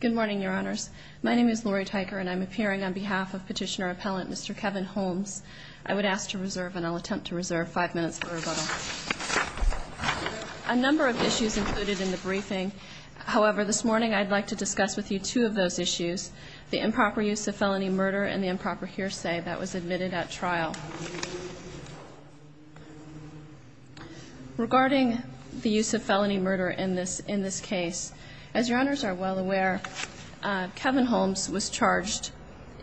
Good morning, Your Honors. My name is Lori Tyker, and I'm appearing on behalf of Petitioner-Appellant Mr. Kevin Holmes. I would ask to reserve, and I'll attempt to reserve, five minutes for rebuttal. A number of issues included in the briefing. However, this morning I'd like to discuss with you two of those issues, the improper use of felony murder and the improper hearsay that was admitted at trial. Regarding the use of felony murder in this case, as Your Honors are well aware, Kevin Holmes was charged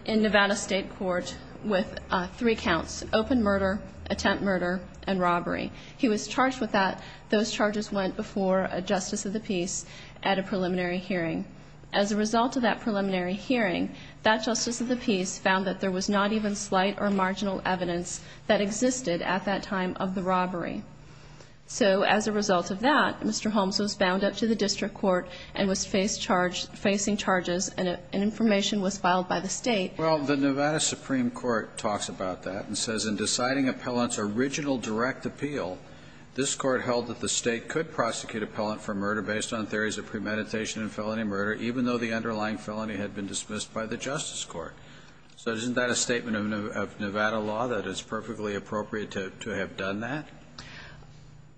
in Nevada State Court with three counts, open murder, attempt murder, and robbery. He was charged with that. Those charges went before a Justice of the Peace at a preliminary hearing. As a result of that preliminary hearing, that Justice of the Peace found that there was not even slight or marginal evidence that existed at that time of the robbery. So as a result of that, Mr. Holmes was bound up to the district court and was facing charges, and information was filed by the State. Well, the Nevada Supreme Court talks about that and says in deciding appellant's original direct appeal, this Court held that the State could prosecute appellant for murder based on theories of premeditation and felony murder, even though the underlying felony had been dismissed by the Justice Court. So isn't that a statement of Nevada law, that it's perfectly appropriate to have done that?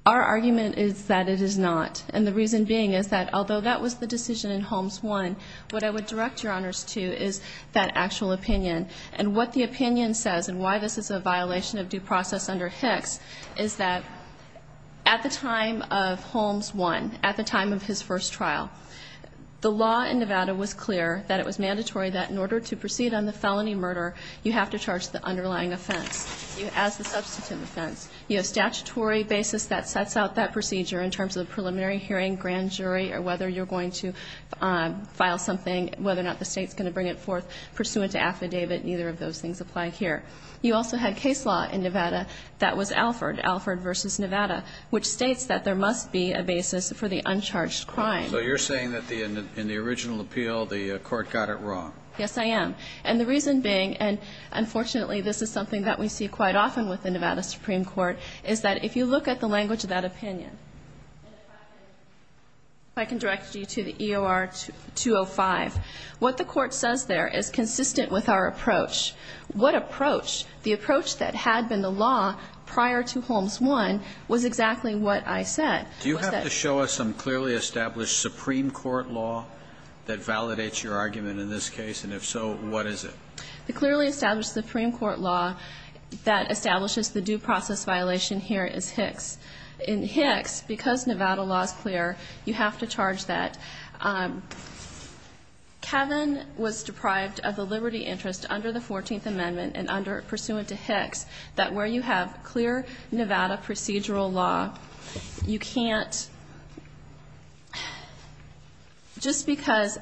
Our argument is that it is not. And the reason being is that although that was the decision in Holmes 1, what I would direct Your Honors to is that actual opinion. And what the opinion says, and why this is a violation of due process under Hicks, is that at the time of Holmes 1, at the time of his first trial, the law in Nevada was clear that it was mandatory that in order to proceed on the felony murder, you have to charge the underlying offense as the substantive offense. You have statutory basis that sets out that procedure in terms of preliminary hearing, grand jury, or whether you're going to file something, whether or not the State's going to bring it forth pursuant to affidavit. Neither of those things apply here. You also had case law in Nevada that was Alford, Alford v. Nevada, which states that there must be a basis for the uncharged crime. So you're saying that in the original appeal, the Court got it wrong? Yes, I am. And the reason being, and unfortunately this is something that we see quite often with the Nevada Supreme Court, is that if you look at the language of that opinion, and if I can direct you to the EOR-205, what the Court says there is consistent with our approach. What approach? The approach that had been the law prior to Holmes 1 was exactly what I said. Do you have to show us some clearly established Supreme Court law that validates your argument in this case? And if so, what is it? The clearly established Supreme Court law that establishes the due process violation here is Hicks. In Hicks, because Nevada law is clear, you have to charge that. Kevin was deprived of the liberty interest under the 14th Amendment and pursuant to Hicks, that where you have clear Nevada procedural law, you can't just because,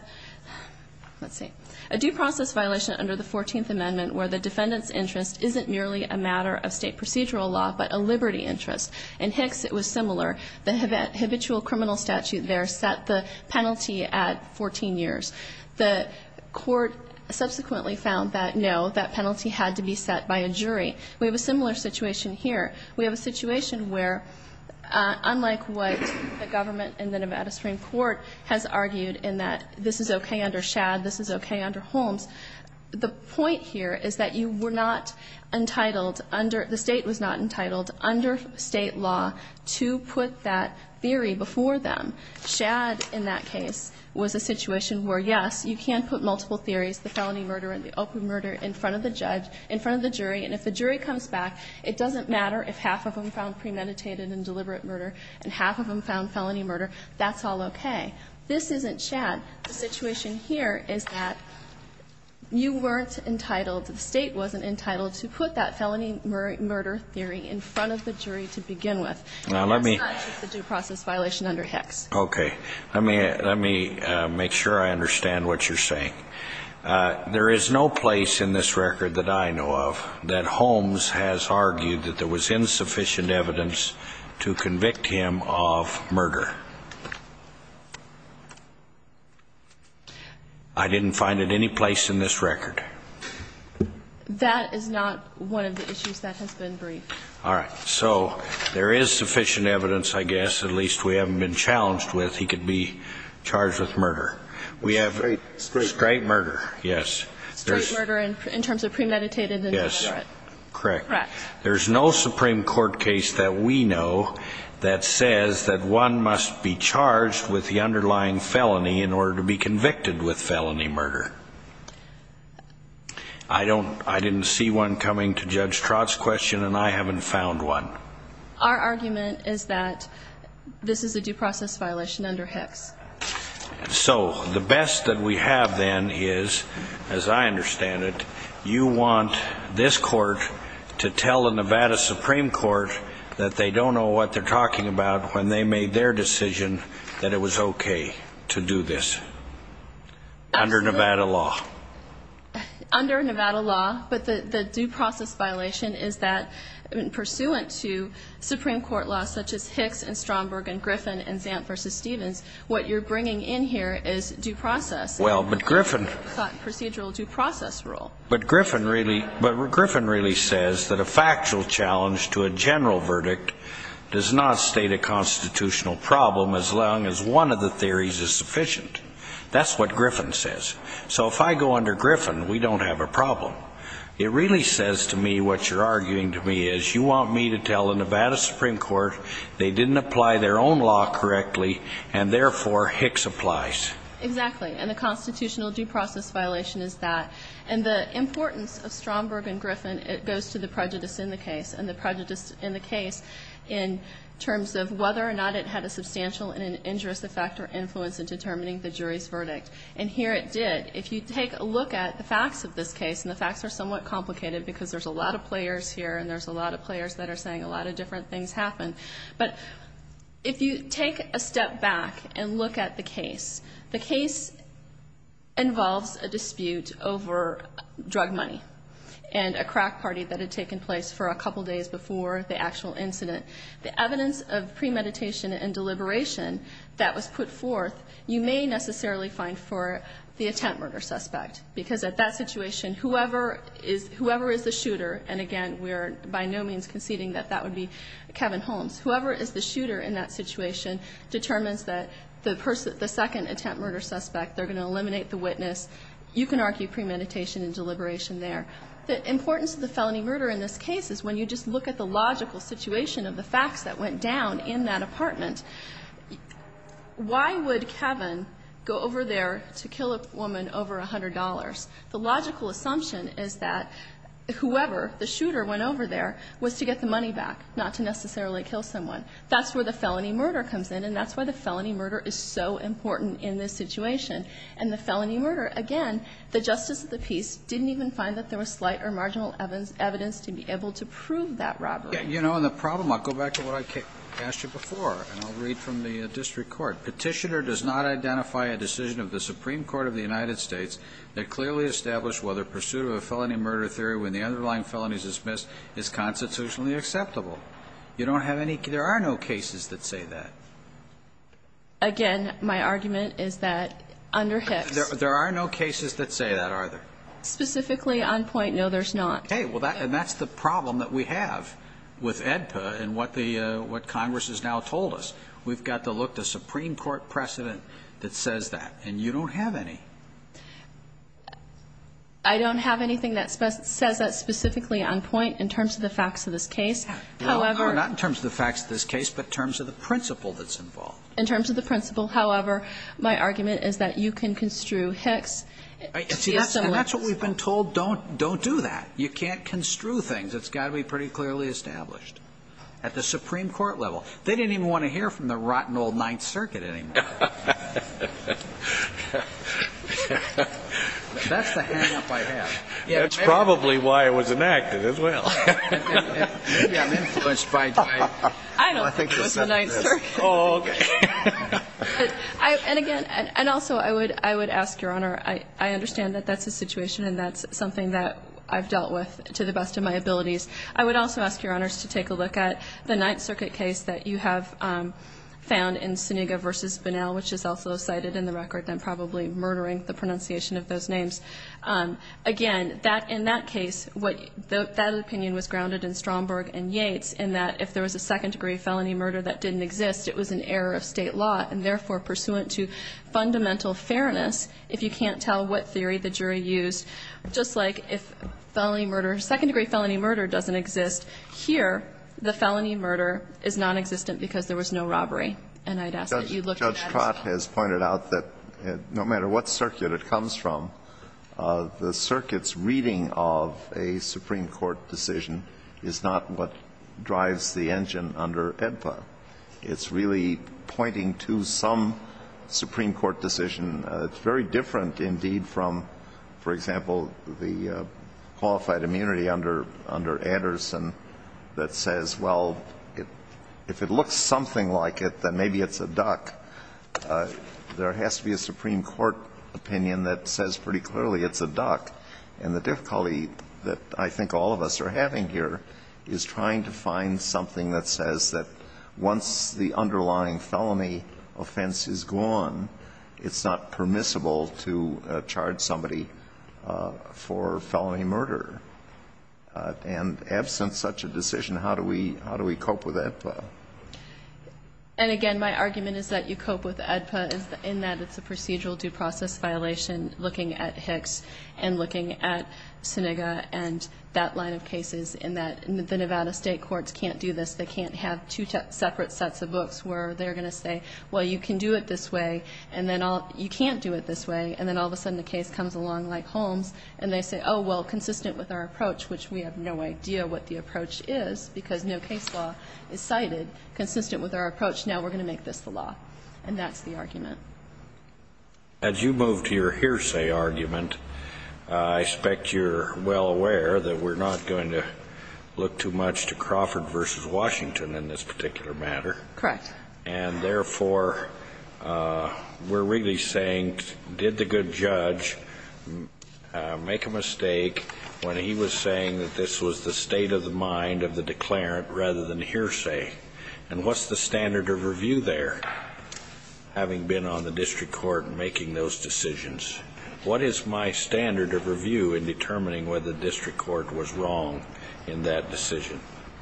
let's see, a due process violation under the 14th Amendment where the defendant's interest isn't merely a matter of State procedural law, but a liberty interest. In Hicks, it was similar. The habitual criminal statute there set the penalty at 14 years. The Court subsequently found that, no, that penalty had to be set by a jury. We have a similar situation here. We have a situation where, unlike what the government in the Nevada Supreme Court has argued in that this is okay under Shad, this is okay under Holmes, the point here is that you were not entitled under the State was not entitled under State law to put that theory before them. Shad in that case was a situation where, yes, you can put multiple theories, the felony murder and the open murder, in front of the judge, in front of the jury, and if the jury comes back, it doesn't matter if half of them found premeditated and deliberate murder and half of them found felony murder, that's all okay. This isn't Shad. The situation here is that you weren't entitled, the State wasn't entitled to put that felony murder theory in front of the jury to begin with. And that's not the due process violation under Hicks. Okay. Let me make sure I understand what you're saying. There is no place in this record that I know of that Holmes has argued that there was insufficient evidence to convict him of murder. I didn't find it any place in this record. That is not one of the issues that has been briefed. All right. So there is sufficient evidence, I guess, at least we haven't been challenged with, he could be charged with murder. Straight murder. Straight murder, yes. Straight murder in terms of premeditated and deliberate. Correct. Correct. There's no Supreme Court case that we know that says that one must be charged with the underlying felony in order to be convicted with felony murder. I didn't see one coming to Judge Trott's question and I haven't found one. Our argument is that this is a due process violation under Hicks. So the best that we have then is, as I understand it, you want this court to tell the Nevada Supreme Court that they don't know what they're talking about when they made their decision that it was okay to do this. Under Nevada law. Under Nevada law. But the due process violation is that pursuant to Supreme Court law such as Hicks and Stromberg and Griffin and Zant versus Stevens, what you're bringing in here is due process. Well, but Griffin. Procedural due process rule. But Griffin really says that a factual challenge to a general verdict does not state a constitutional problem as long as one of the theories is sufficient. That's what Griffin says. So if I go under Griffin, we don't have a problem. It really says to me what you're arguing to me is you want me to tell the Nevada Supreme Court they didn't apply their own law correctly and therefore Hicks applies. Exactly. And the constitutional due process violation is that. And the importance of Stromberg and Griffin, it goes to the prejudice in the case. And the prejudice in the case in terms of whether or not it had a substantial and injurious effect or influence in determining the jury's verdict. And here it did. If you take a look at the facts of this case, and the facts are somewhat complicated because there's a lot of players here and there's a lot of players that are saying a lot of different things happened. But if you take a step back and look at the case, the case involves a dispute over drug money and a crack party that had taken place for a couple days before the actual incident. The evidence of premeditation and deliberation that was put forth, you may necessarily find for the attempt murder suspect. Because at that situation, whoever is the shooter, and again, we are by no means conceding that that would be Kevin Holmes. Whoever is the shooter in that situation determines that the second attempt murder suspect, they're going to eliminate the witness. You can argue premeditation and deliberation there. The importance of the felony murder in this case is when you just look at the logical situation of the facts that went down in that apartment, why would Kevin go over there to kill a woman over $100? The logical assumption is that whoever, the shooter, went over there was to get the money back, not to necessarily kill someone. That's where the felony murder comes in, and that's why the felony murder is so important in this situation. And the felony murder, again, the justice of the peace didn't even find that there was slight or marginal evidence to be able to prove that robbery. And the problem, I'll go back to what I asked you before, and I'll read from the district court. Petitioner does not identify a decision of the Supreme Court of the United States that clearly established whether pursuit of a felony murder theory when the underlying felony is dismissed is constitutionally acceptable. You don't have any, there are no cases that say that. Again, my argument is that under Hicks. There are no cases that say that, are there? Specifically on point, no, there's not. Okay, and that's the problem that we have with AEDPA and what Congress has now told us. We've got to look to Supreme Court precedent that says that. And you don't have any. I don't have anything that says that specifically on point in terms of the facts of this case. However. Well, not in terms of the facts of this case, but in terms of the principle that's involved. In terms of the principle, however, my argument is that you can construe Hicks. See, that's what we've been told. Don't do that. You can't construe things. It's got to be pretty clearly established. At the Supreme Court level. They didn't even want to hear from the rotten old Ninth Circuit anymore. That's the hang up I have. That's probably why it was enacted as well. Maybe I'm influenced by Dwight. I don't think it was the Ninth Circuit. Oh, okay. And again, and also I would ask, Your Honor, I understand that that's a situation and that's something that I've dealt with to the best of my abilities. I would also ask, Your Honors, to take a look at the Ninth Circuit case that you have found in Suniga v. Bonnell, which is also cited in the record. I'm probably murdering the pronunciation of those names. Again, that in that case, what that opinion was grounded in Stromberg and Yates in that if there was a second-degree felony murder that didn't exist, it was an error of State law, and therefore pursuant to fundamental fairness, if you can't tell what the jury used, just like if felony murder, second-degree felony murder doesn't exist here, the felony murder is nonexistent because there was no robbery. And I'd ask that you look at that as well. Judge Trott has pointed out that no matter what circuit it comes from, the circuit's reading of a Supreme Court decision is not what drives the engine under AEDPA. It's really pointing to some Supreme Court decision. It's very different, indeed, from, for example, the qualified immunity under Anderson that says, well, if it looks something like it, then maybe it's a duck. There has to be a Supreme Court opinion that says pretty clearly it's a duck. And the difficulty that I think all of us are having here is trying to find something that says that once the underlying felony offense is gone, it's not permissible to charge somebody for felony murder. And absent such a decision, how do we cope with AEDPA? And, again, my argument is that you cope with AEDPA in that it's a procedural due process violation looking at Hicks and looking at Senega and that line of cases in that the Nevada State courts can't do this. They can't have two separate sets of books where they're going to say, well, you can do it this way, and then all of a sudden the case comes along like Holmes, and they say, oh, well, consistent with our approach, which we have no idea what the approach is, because no case law is cited, consistent with our approach, now we're going And that's the argument. As you move to your hearsay argument, I expect you're well aware that we're not going to look too much to Crawford v. Washington in this particular matter. Correct. And, therefore, we're really saying, did the good judge make a mistake when he was saying that this was the state of the mind of the declarant rather than hearsay? And what's the standard of review there, having been on the district court making those decisions? What is my standard of review in determining whether the district court was wrong in that decision?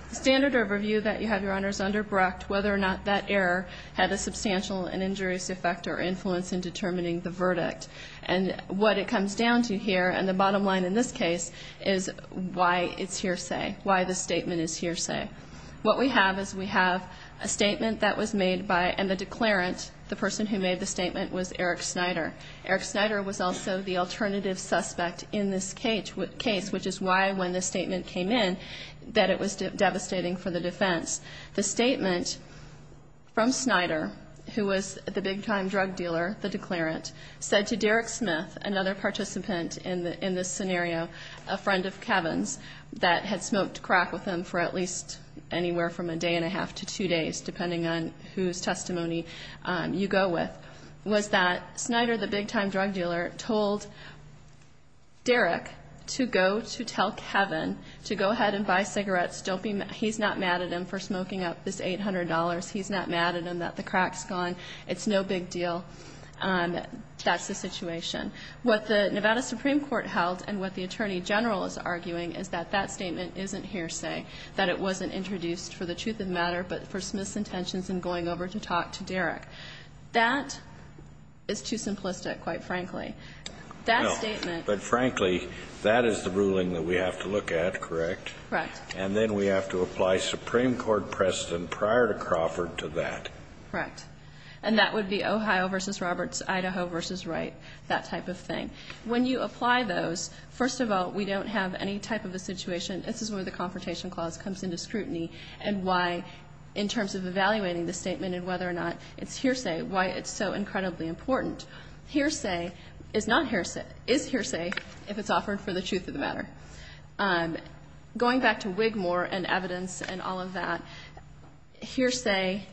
The standard of review that you have, Your Honors, under Brecht, whether or not that error had a substantial and injurious effect or influence in determining the verdict. And what it comes down to here, and the bottom line in this case, is why it's hearsay, why the statement is hearsay. What we have is we have a statement that was made by, and the declarant, the person who made the statement, was Eric Snyder. Eric Snyder was also the alternative suspect in this case, which is why when the statement came in that it was devastating for the defense. The statement from Snyder, who was the big-time drug dealer, the declarant, said to Derek Smith, another participant in this scenario, a friend of Kevin's that had smoked crack with him for at least anywhere from a day and a half to two days, depending on whose testimony you go with, was that Snyder, the big-time drug dealer, told Derek to go to tell Kevin to go ahead and buy cigarettes. He's not mad at him for smoking up this $800. He's not mad at him that the crack's gone. It's no big deal. That's the situation. What the Nevada Supreme Court held and what the Attorney General is arguing is that that statement isn't hearsay, that it wasn't introduced for the truth of matter, but for Smith's intentions in going over to talk to Derek. That is too simplistic, quite frankly. That statement ---- No. But, frankly, that is the ruling that we have to look at, correct? Correct. And then we have to apply Supreme Court precedent prior to Crawford to that. Correct. And that would be Ohio v. Roberts, Idaho v. Wright, that type of thing. When you apply those, first of all, we don't have any type of a situation ---- this is where the Confrontation Clause comes into scrutiny and why, in terms of evaluating the statement and whether or not it's hearsay, why it's so incredibly important. Hearsay is not hearsay. It is hearsay if it's offered for the truth of the matter. Going back to Wigmore and evidence and all of that, hearsay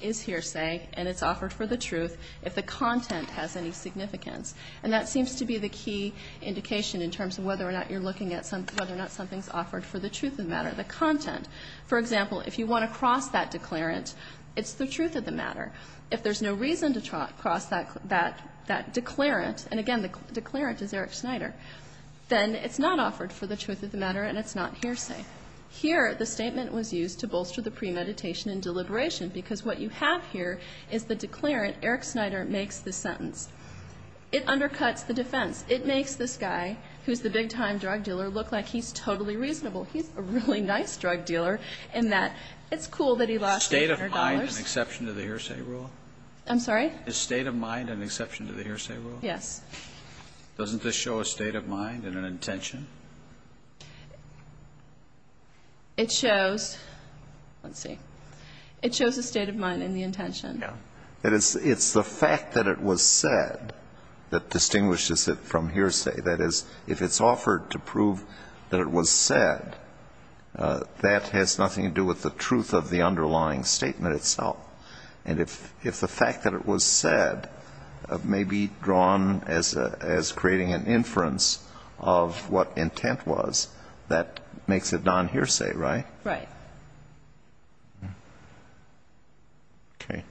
is hearsay and it's offered for the truth if the content has any significance. And that seems to be the key indication in terms of whether or not you're looking at whether or not something's offered for the truth of the matter, the content. For example, if you want to cross that declarant, it's the truth of the matter. If there's no reason to cross that declarant, and again, the declarant is Eric Snyder, then it's not offered for the truth of the matter and it's not hearsay. Here, the statement was used to bolster the premeditation and deliberation because what you have here is the declarant. Eric Snyder makes the sentence. It undercuts the defense. It makes this guy, who's the big-time drug dealer, look like he's totally reasonable. He's a really nice drug dealer in that it's cool that he lost $800. Roberts. State of mind an exception to the hearsay rule? I'm sorry? Is state of mind an exception to the hearsay rule? Yes. Doesn't this show a state of mind and an intention? It shows. Let's see. It shows a state of mind and the intention. Yeah. It's the fact that it was said that distinguishes it from hearsay. That is, if it's offered to prove that it was said, that has nothing to do with the truth of the underlying statement itself. And if the fact that it was said may be drawn as creating an inference of what intent was, that makes it nonhearsay, right? Right. Okay.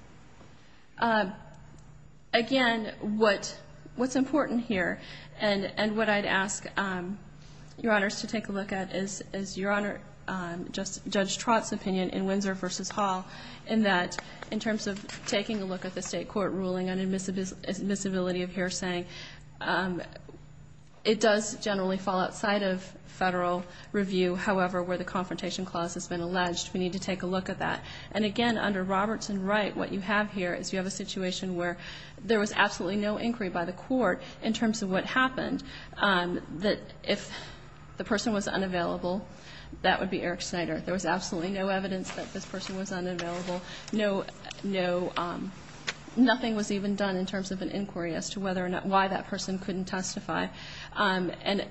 Again, what's important here and what I'd ask Your Honors to take a look at is Your Honor, in terms of taking a look at the state court ruling on admissibility of hearsay, it does generally fall outside of Federal review, however, where the confrontation clause has been alleged. We need to take a look at that. And again, under Roberts and Wright, what you have here is you have a situation where there was absolutely no inquiry by the court in terms of what happened, that if the person was unavailable, that would be Eric Schneider. There was absolutely no evidence that this person was unavailable. Nothing was even done in terms of an inquiry as to whether or not why that person couldn't testify. And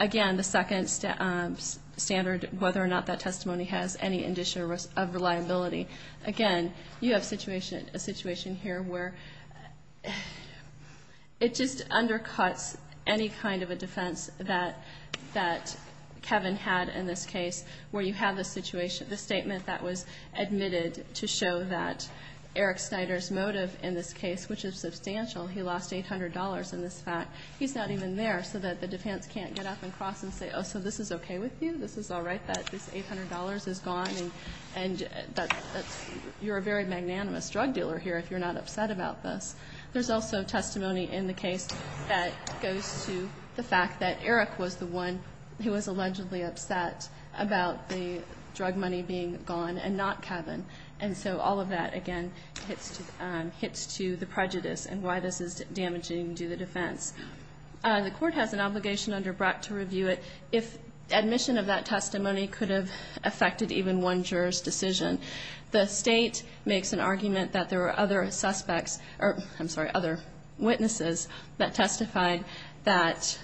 again, the second standard, whether or not that testimony has any indicia of reliability. Again, you have a situation here where it just undercuts any kind of a defense that Kevin had in this case, where you have the statement that was admitted to show that Eric Schneider's motive in this case, which is substantial, he lost $800 in this fact. He's not even there, so that the defense can't get up and cross and say, oh, so this is okay with you? This is all right that this $800 is gone? And you're a very magnanimous drug dealer here if you're not upset about this. There's also testimony in the case that goes to the fact that Eric was the one who was allegedly upset about the drug money being gone and not Kevin. And so all of that, again, hits to the prejudice and why this is damaging to the defense. The Court has an obligation under Brecht to review it if admission of that testimony could have affected even one juror's decision. The State makes an argument that there were other suspects or, I'm sorry, other witnesses that testified that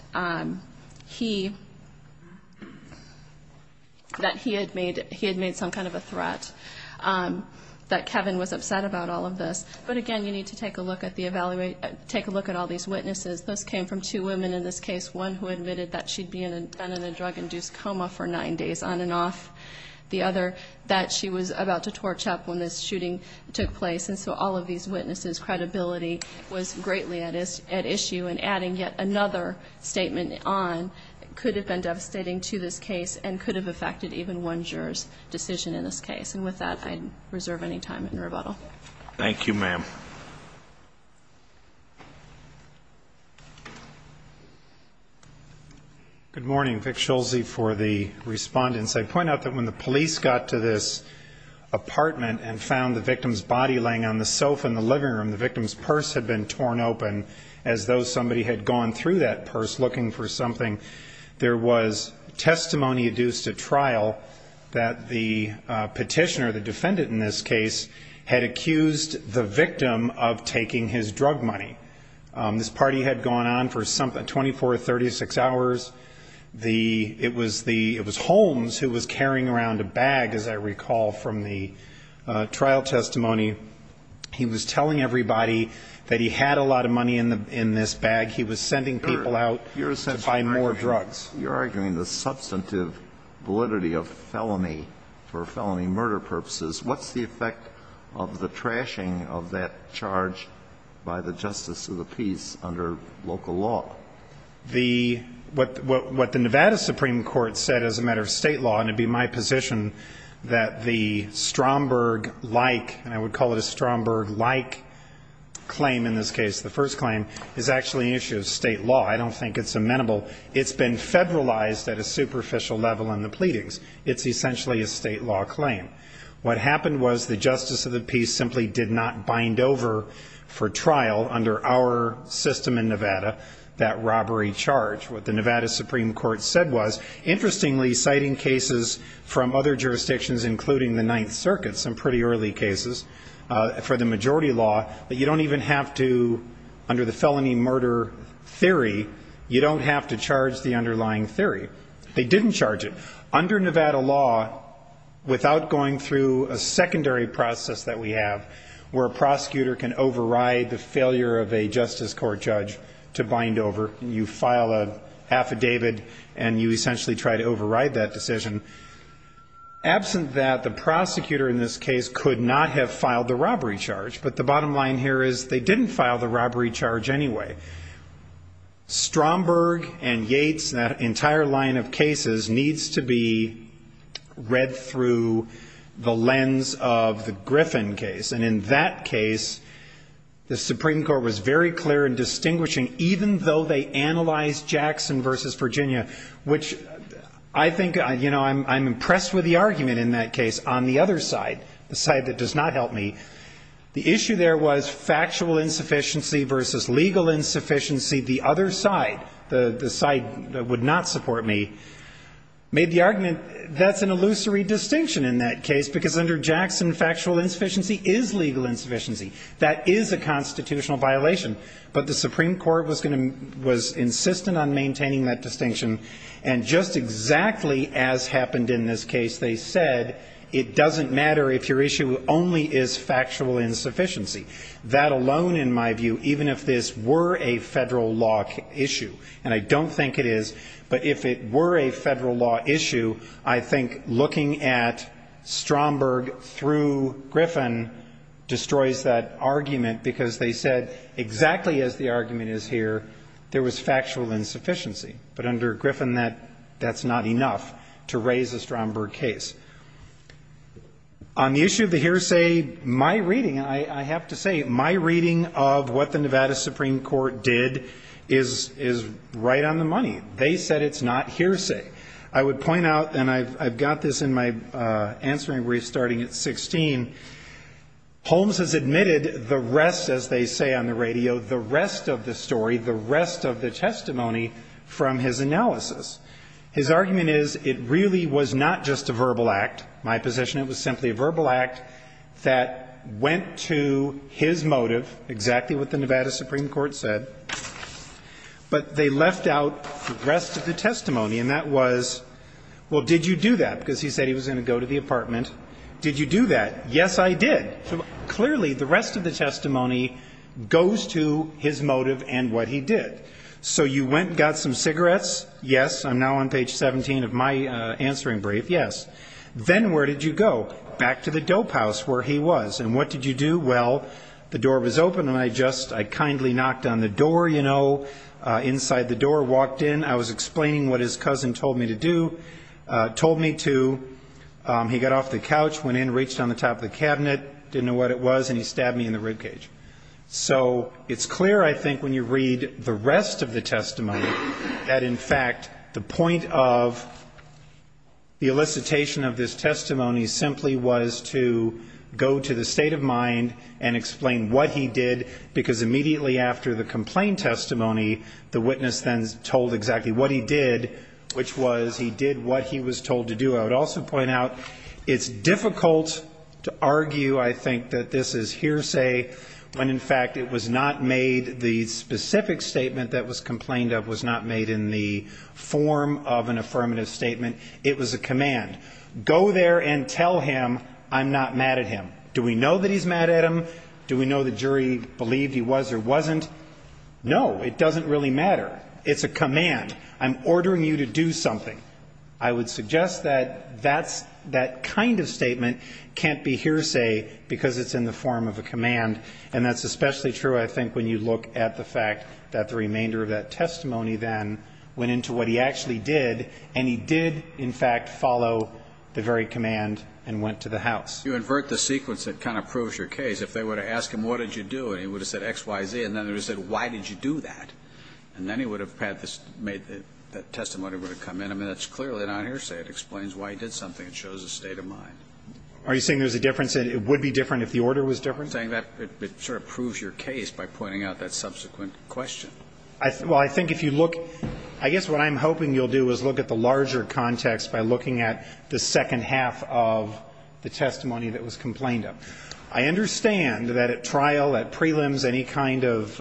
he had made some kind of a threat. That Kevin was upset about all of this. But again, you need to take a look at all these witnesses. Those came from two women in this case, one who admitted that she'd been in a drug-induced coma for nine days on and off, the other that she was about to torch up when this shooting took place. And so all of these witnesses' credibility was greatly at issue. And adding yet another statement on could have been devastating to this case and could have affected even one juror's decision in this case. And with that, I reserve any time in rebuttal. Thank you, ma'am. Good morning. Vic Schulze for the respondents. I'd point out that when the police got to this apartment and found the victim's body laying on the sofa in the living room, the victim's purse had been torn open as though somebody had gone through that purse looking for something. There was testimony adduced at trial that the petitioner, the defendant in this case, had accused the victim of taking his drug money. This party had gone on for 24 or 36 hours. It was Holmes who was carrying around a bag, as I recall from the trial testimony. He was telling everybody that he had a lot of money in this bag. He was sending people out to buy more drugs. You're arguing the substantive validity of felony for felony murder purposes. What's the effect of the trashing of that charge by the justice of the peace under local law? The what the Nevada Supreme Court said as a matter of State law, and it would be my position, that the Stromberg-like, and I would call it a Stromberg-like claim in this case, the first claim, is actually an issue of State law. I don't think it's amenable. It's been federalized at a superficial level in the pleadings. It's essentially a State law claim. What happened was the justice of the peace simply did not bind over for trial under our system in Nevada, that robbery charge. What the Nevada Supreme Court said was, interestingly, citing cases from other under the felony murder theory, you don't have to charge the underlying theory. They didn't charge it. Under Nevada law, without going through a secondary process that we have where a prosecutor can override the failure of a justice court judge to bind over, you file an affidavit, and you essentially try to override that decision. Absent that, the prosecutor in this case could not have filed the robbery charge. But the bottom line here is they didn't file the robbery charge anyway. Stromberg and Yates, that entire line of cases, needs to be read through the lens of the Griffin case. And in that case, the Supreme Court was very clear in distinguishing, even though they analyzed Jackson versus Virginia, which I think, you know, I'm impressed with the argument in that case. On the other side, the side that does not help me, the issue there was factual insufficiency versus legal insufficiency. The other side, the side that would not support me, made the argument that's an illusory distinction in that case, because under Jackson, factual insufficiency is legal insufficiency. That is a constitutional violation. But the Supreme Court was going to be, was insistent on maintaining that distinction. And just exactly as happened in this case, they said it doesn't matter if your issue only is factual insufficiency. That alone, in my view, even if this were a Federal law issue, and I don't think it is, but if it were a Federal law issue, I think looking at Stromberg through Griffin destroys that argument, because they said exactly as the argument is here, there was factual insufficiency. But under Griffin, that's not enough to raise a Stromberg case. On the issue of the hearsay, my reading, I have to say, my reading of what the Nevada Supreme Court did is right on the money. They said it's not hearsay. I would point out, and I've got this in my answering brief starting at 16, Holmes has admitted the rest, as they say on the radio, the rest of the story, the rest of the testimony from his analysis. His argument is it really was not just a verbal act. My position, it was simply a verbal act that went to his motive, exactly what the Nevada Supreme Court said, but they left out the rest of the testimony, and that was, well, did you do that, because he said he was going to go to the apartment. Did you do that? Yes, I did. Clearly, the rest of the testimony goes to his motive and what he did. So you went and got some cigarettes? Yes. I'm now on page 17 of my answering brief. Yes. Then where did you go? Back to the dope house where he was. And what did you do? Well, the door was open, and I just, I kindly knocked on the door, you know, inside the door, walked in. I was explaining what his cousin told me to do, told me to, he got off the couch, went in, reached on the top of the cabinet, didn't know what it was, and he stabbed me in the rib cage. So it's clear, I think, when you read the rest of the testimony, that, in fact, the point of the elicitation of this testimony simply was to go to the state of mind and explain what he did, because immediately after the complaint testimony, the witness then told exactly what he did, which was he did what he was told to do. I would also point out it's difficult to argue, I think, that this is hearsay when, in fact, it was not made, the specific statement that was complained of was not made in the form of an affirmative statement. It was a command. Go there and tell him I'm not mad at him. Do we know that he's mad at him? Do we know the jury believed he was or wasn't? No, it doesn't really matter. It's a command. I'm ordering you to do something. I would suggest that that's that kind of statement can't be hearsay, because it's in the form of a command, and that's especially true, I think, when you look at the fact that the remainder of that testimony then went into what he actually did, and he did, in fact, follow the very command and went to the house. You invert the sequence, it kind of proves your case. If they were to ask him, what did you do, and he would have said X, Y, Z, and then they would have said, why did you do that? And then he would have made that testimony would have come in. I mean, that's clearly not hearsay. It explains why he did something. It shows a state of mind. Are you saying there's a difference, that it would be different if the order was different? I'm saying that it sort of proves your case by pointing out that subsequent question. Well, I think if you look at the larger context by looking at the second half of the testimony that was complained of, I understand that at trial, at prelims, any kind of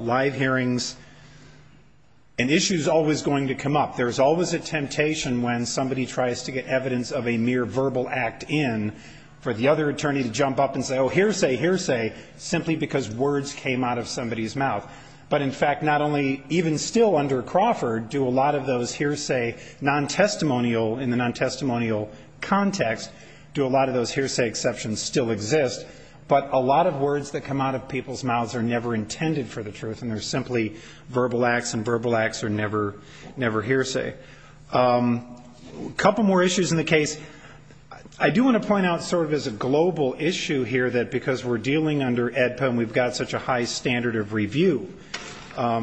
live hearings, an issue is always going to come up. There's always a temptation when somebody tries to get evidence of a mere verbal act in for the other attorney to jump up and say, oh, hearsay, hearsay, simply because words came out of somebody's mouth. But, in fact, not only even still under Crawford do a lot of those hearsay nontestimonial in the nontestimonial context, do a lot of those hearsay exceptions still exist, but a lot of words that come out of people's mouths are never intended for the truth, and they're simply verbal acts, and verbal acts are never hearsay. A couple more issues in the case. I do want to point out sort of as a global issue here that because we're dealing under AEDPA and we've got such a high standard of review,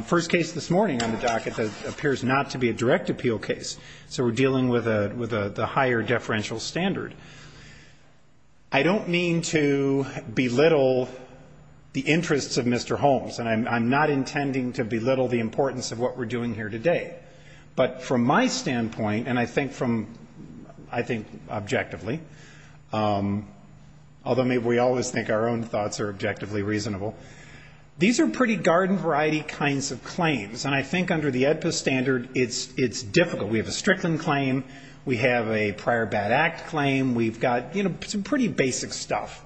first case this morning on the docket that appears not to be a direct appeal case, so we're dealing with a higher deferential standard. I don't mean to belittle the interests of Mr. Holmes, and I'm not intending to belittle the importance of what we're doing here today, but from my standpoint, and I think from, I think objectively, although maybe we always think our own thoughts are objectively reasonable, these are pretty garden variety kinds of claims, and I think under the AEDPA standard it's difficult. We have a Strickland claim, we have a prior bad act claim, we've got some pretty basic stuff,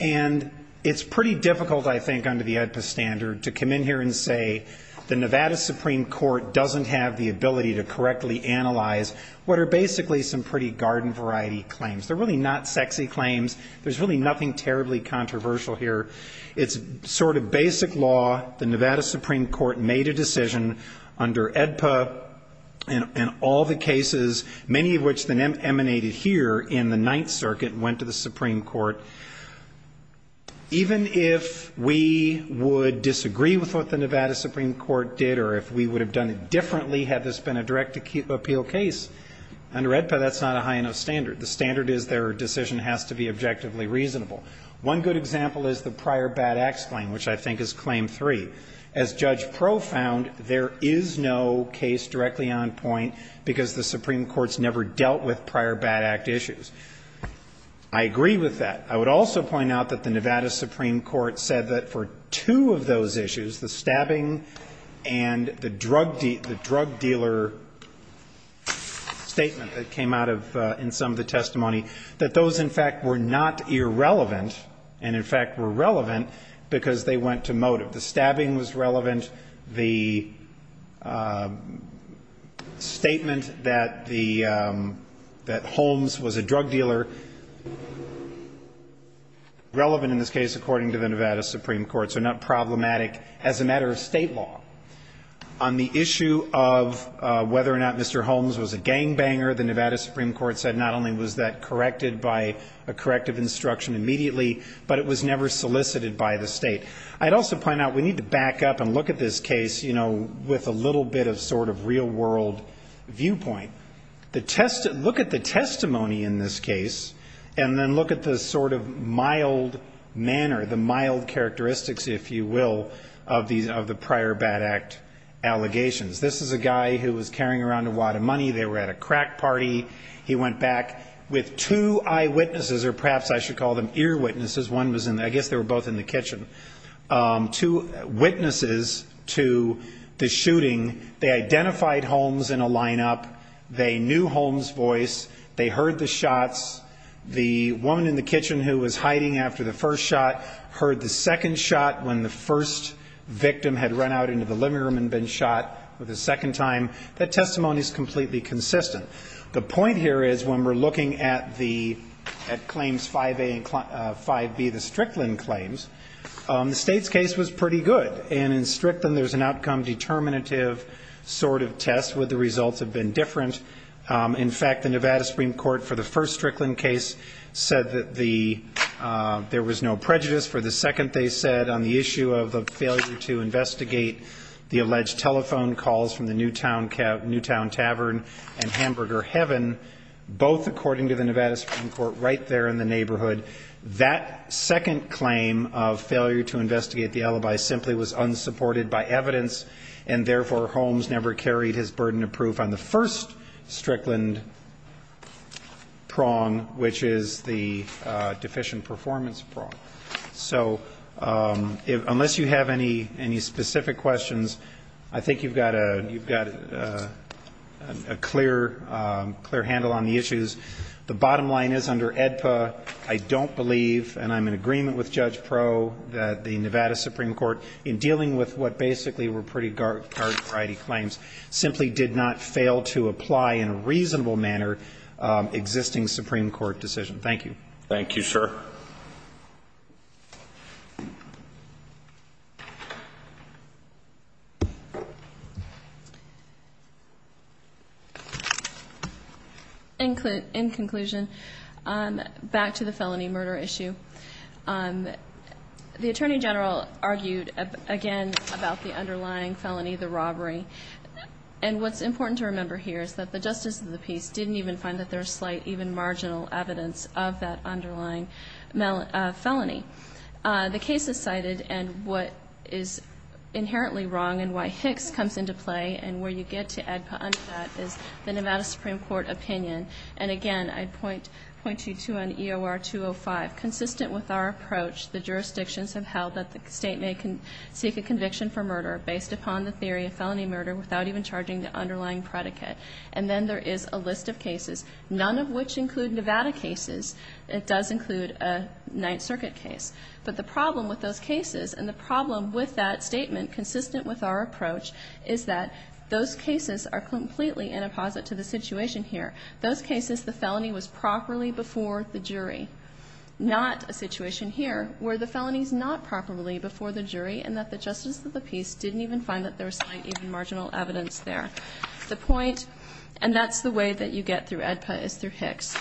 and it's pretty difficult, I think, under the AEDPA standard to come in here and say the Nevada Supreme Court doesn't have the ability to correctly analyze what are basically some pretty garden variety claims. They're really not sexy claims. There's really nothing terribly controversial here. It's sort of basic law. The Nevada Supreme Court made a decision under AEDPA and all the cases, many of which emanated here in the Ninth Circuit, went to the Supreme Court. Even if we would disagree with what the Nevada Supreme Court did or if we would have done it differently had this been a direct appeal case, under AEDPA that's not a high enough standard. The standard is their decision has to be objectively reasonable. One good example is the prior bad acts claim, which I think is Claim 3. As Judge Pro found, there is no case directly on point because the Supreme Court's never dealt with prior bad act issues. I agree with that. I would also point out that the Nevada Supreme Court said that for two of those issues, the stabbing and the drug dealer statement that came out of the testimony, that those, in fact, were not irrelevant and, in fact, were relevant because they went to motive. The stabbing was relevant. The statement that Holmes was a drug dealer, relevant in this case, according to the Nevada Supreme Court, so not problematic as a matter of State law. On the issue of whether or not Mr. Holmes was a gangbanger, the Nevada Supreme Court corrected by a corrective instruction immediately, but it was never solicited by the State. I'd also point out we need to back up and look at this case, you know, with a little bit of sort of real-world viewpoint. Look at the testimony in this case and then look at the sort of mild manner, the mild characteristics, if you will, of the prior bad act allegations. This is a guy who was carrying around a wad of money. They were at a crack party. He went back with two eyewitnesses, or perhaps I should call them earwitnesses. One was in the – I guess they were both in the kitchen. Two witnesses to the shooting. They identified Holmes in a lineup. They knew Holmes' voice. They heard the shots. The woman in the kitchen who was hiding after the first shot heard the second shot when the first victim had run out into the living room and been shot for the second time. That testimony is completely consistent. The point here is when we're looking at the – at Claims 5A and 5B, the Strickland claims, the State's case was pretty good. And in Strickland, there's an outcome determinative sort of test where the results have been different. In fact, the Nevada Supreme Court for the first Strickland case said that the – there was no prejudice. For the second, they said on the issue of the failure to investigate the alleged telephone calls from the Newtown Tavern and Hamburger Heaven, both according to the Nevada Supreme Court right there in the neighborhood, that second claim of failure to investigate the alibi simply was unsupported by evidence, and therefore, Holmes never carried his burden of proof on the first Strickland prong, which is the deficient performance prong. So unless you have any specific questions, I think you've got a clear handle on the issues. The bottom line is under AEDPA, I don't believe, and I'm in agreement with Judge Pro, that the Nevada Supreme Court, in dealing with what basically were pretty gargantuity claims, simply did not fail to apply in a reasonable manner existing Supreme Court decision. Thank you. Thank you, sir. In conclusion, back to the felony murder issue. The Attorney General argued, again, about the underlying felony, the robbery, and what's important to remember here is that the Justice of the Peace didn't even find that there was slight, even marginal, evidence of that underlying felony. The case is cited, and what is inherently wrong and why Hicks comes into play, and where you get to AEDPA under that, is the Nevada Supreme Court opinion. And again, I'd point you to an EOR-205. Consistent with our approach, the jurisdictions have held that the State may seek a settlement, and then there is a list of cases, none of which include Nevada cases. It does include a Ninth Circuit case. But the problem with those cases, and the problem with that statement, consistent with our approach, is that those cases are completely inopposite to the situation here. Those cases, the felony was properly before the jury. Not a situation here, where the felony's not properly before the jury, and that the way that you get through AEDPA is through Hicks.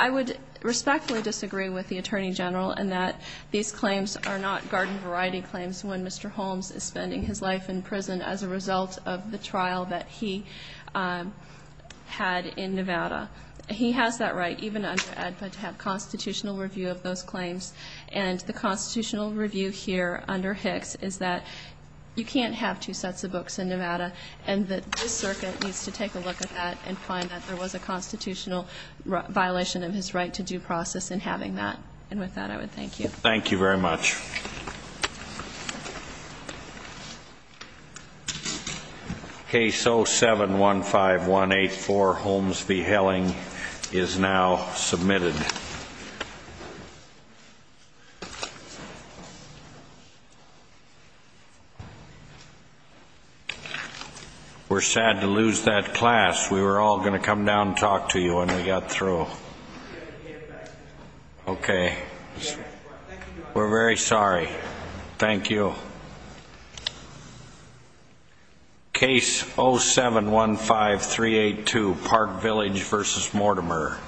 I would respectfully disagree with the Attorney General in that these claims are not garden variety claims when Mr. Holmes is spending his life in prison as a result of the trial that he had in Nevada. He has that right, even under AEDPA, to have constitutional review of those claims. And the constitutional review here under Hicks is that you can't have two sets of books in Nevada, and that this circuit needs to take a look at that and find that there was a constitutional violation of his right to due process in having that. And with that, I would thank you. Case 07-15184, Holmes v. Helling, is now submitted. We're sad to lose that class. We were all going to come down and talk to you when we got through. Okay. We're very sorry. Thank you. Case 07-15382, Park Village v. Mortimer.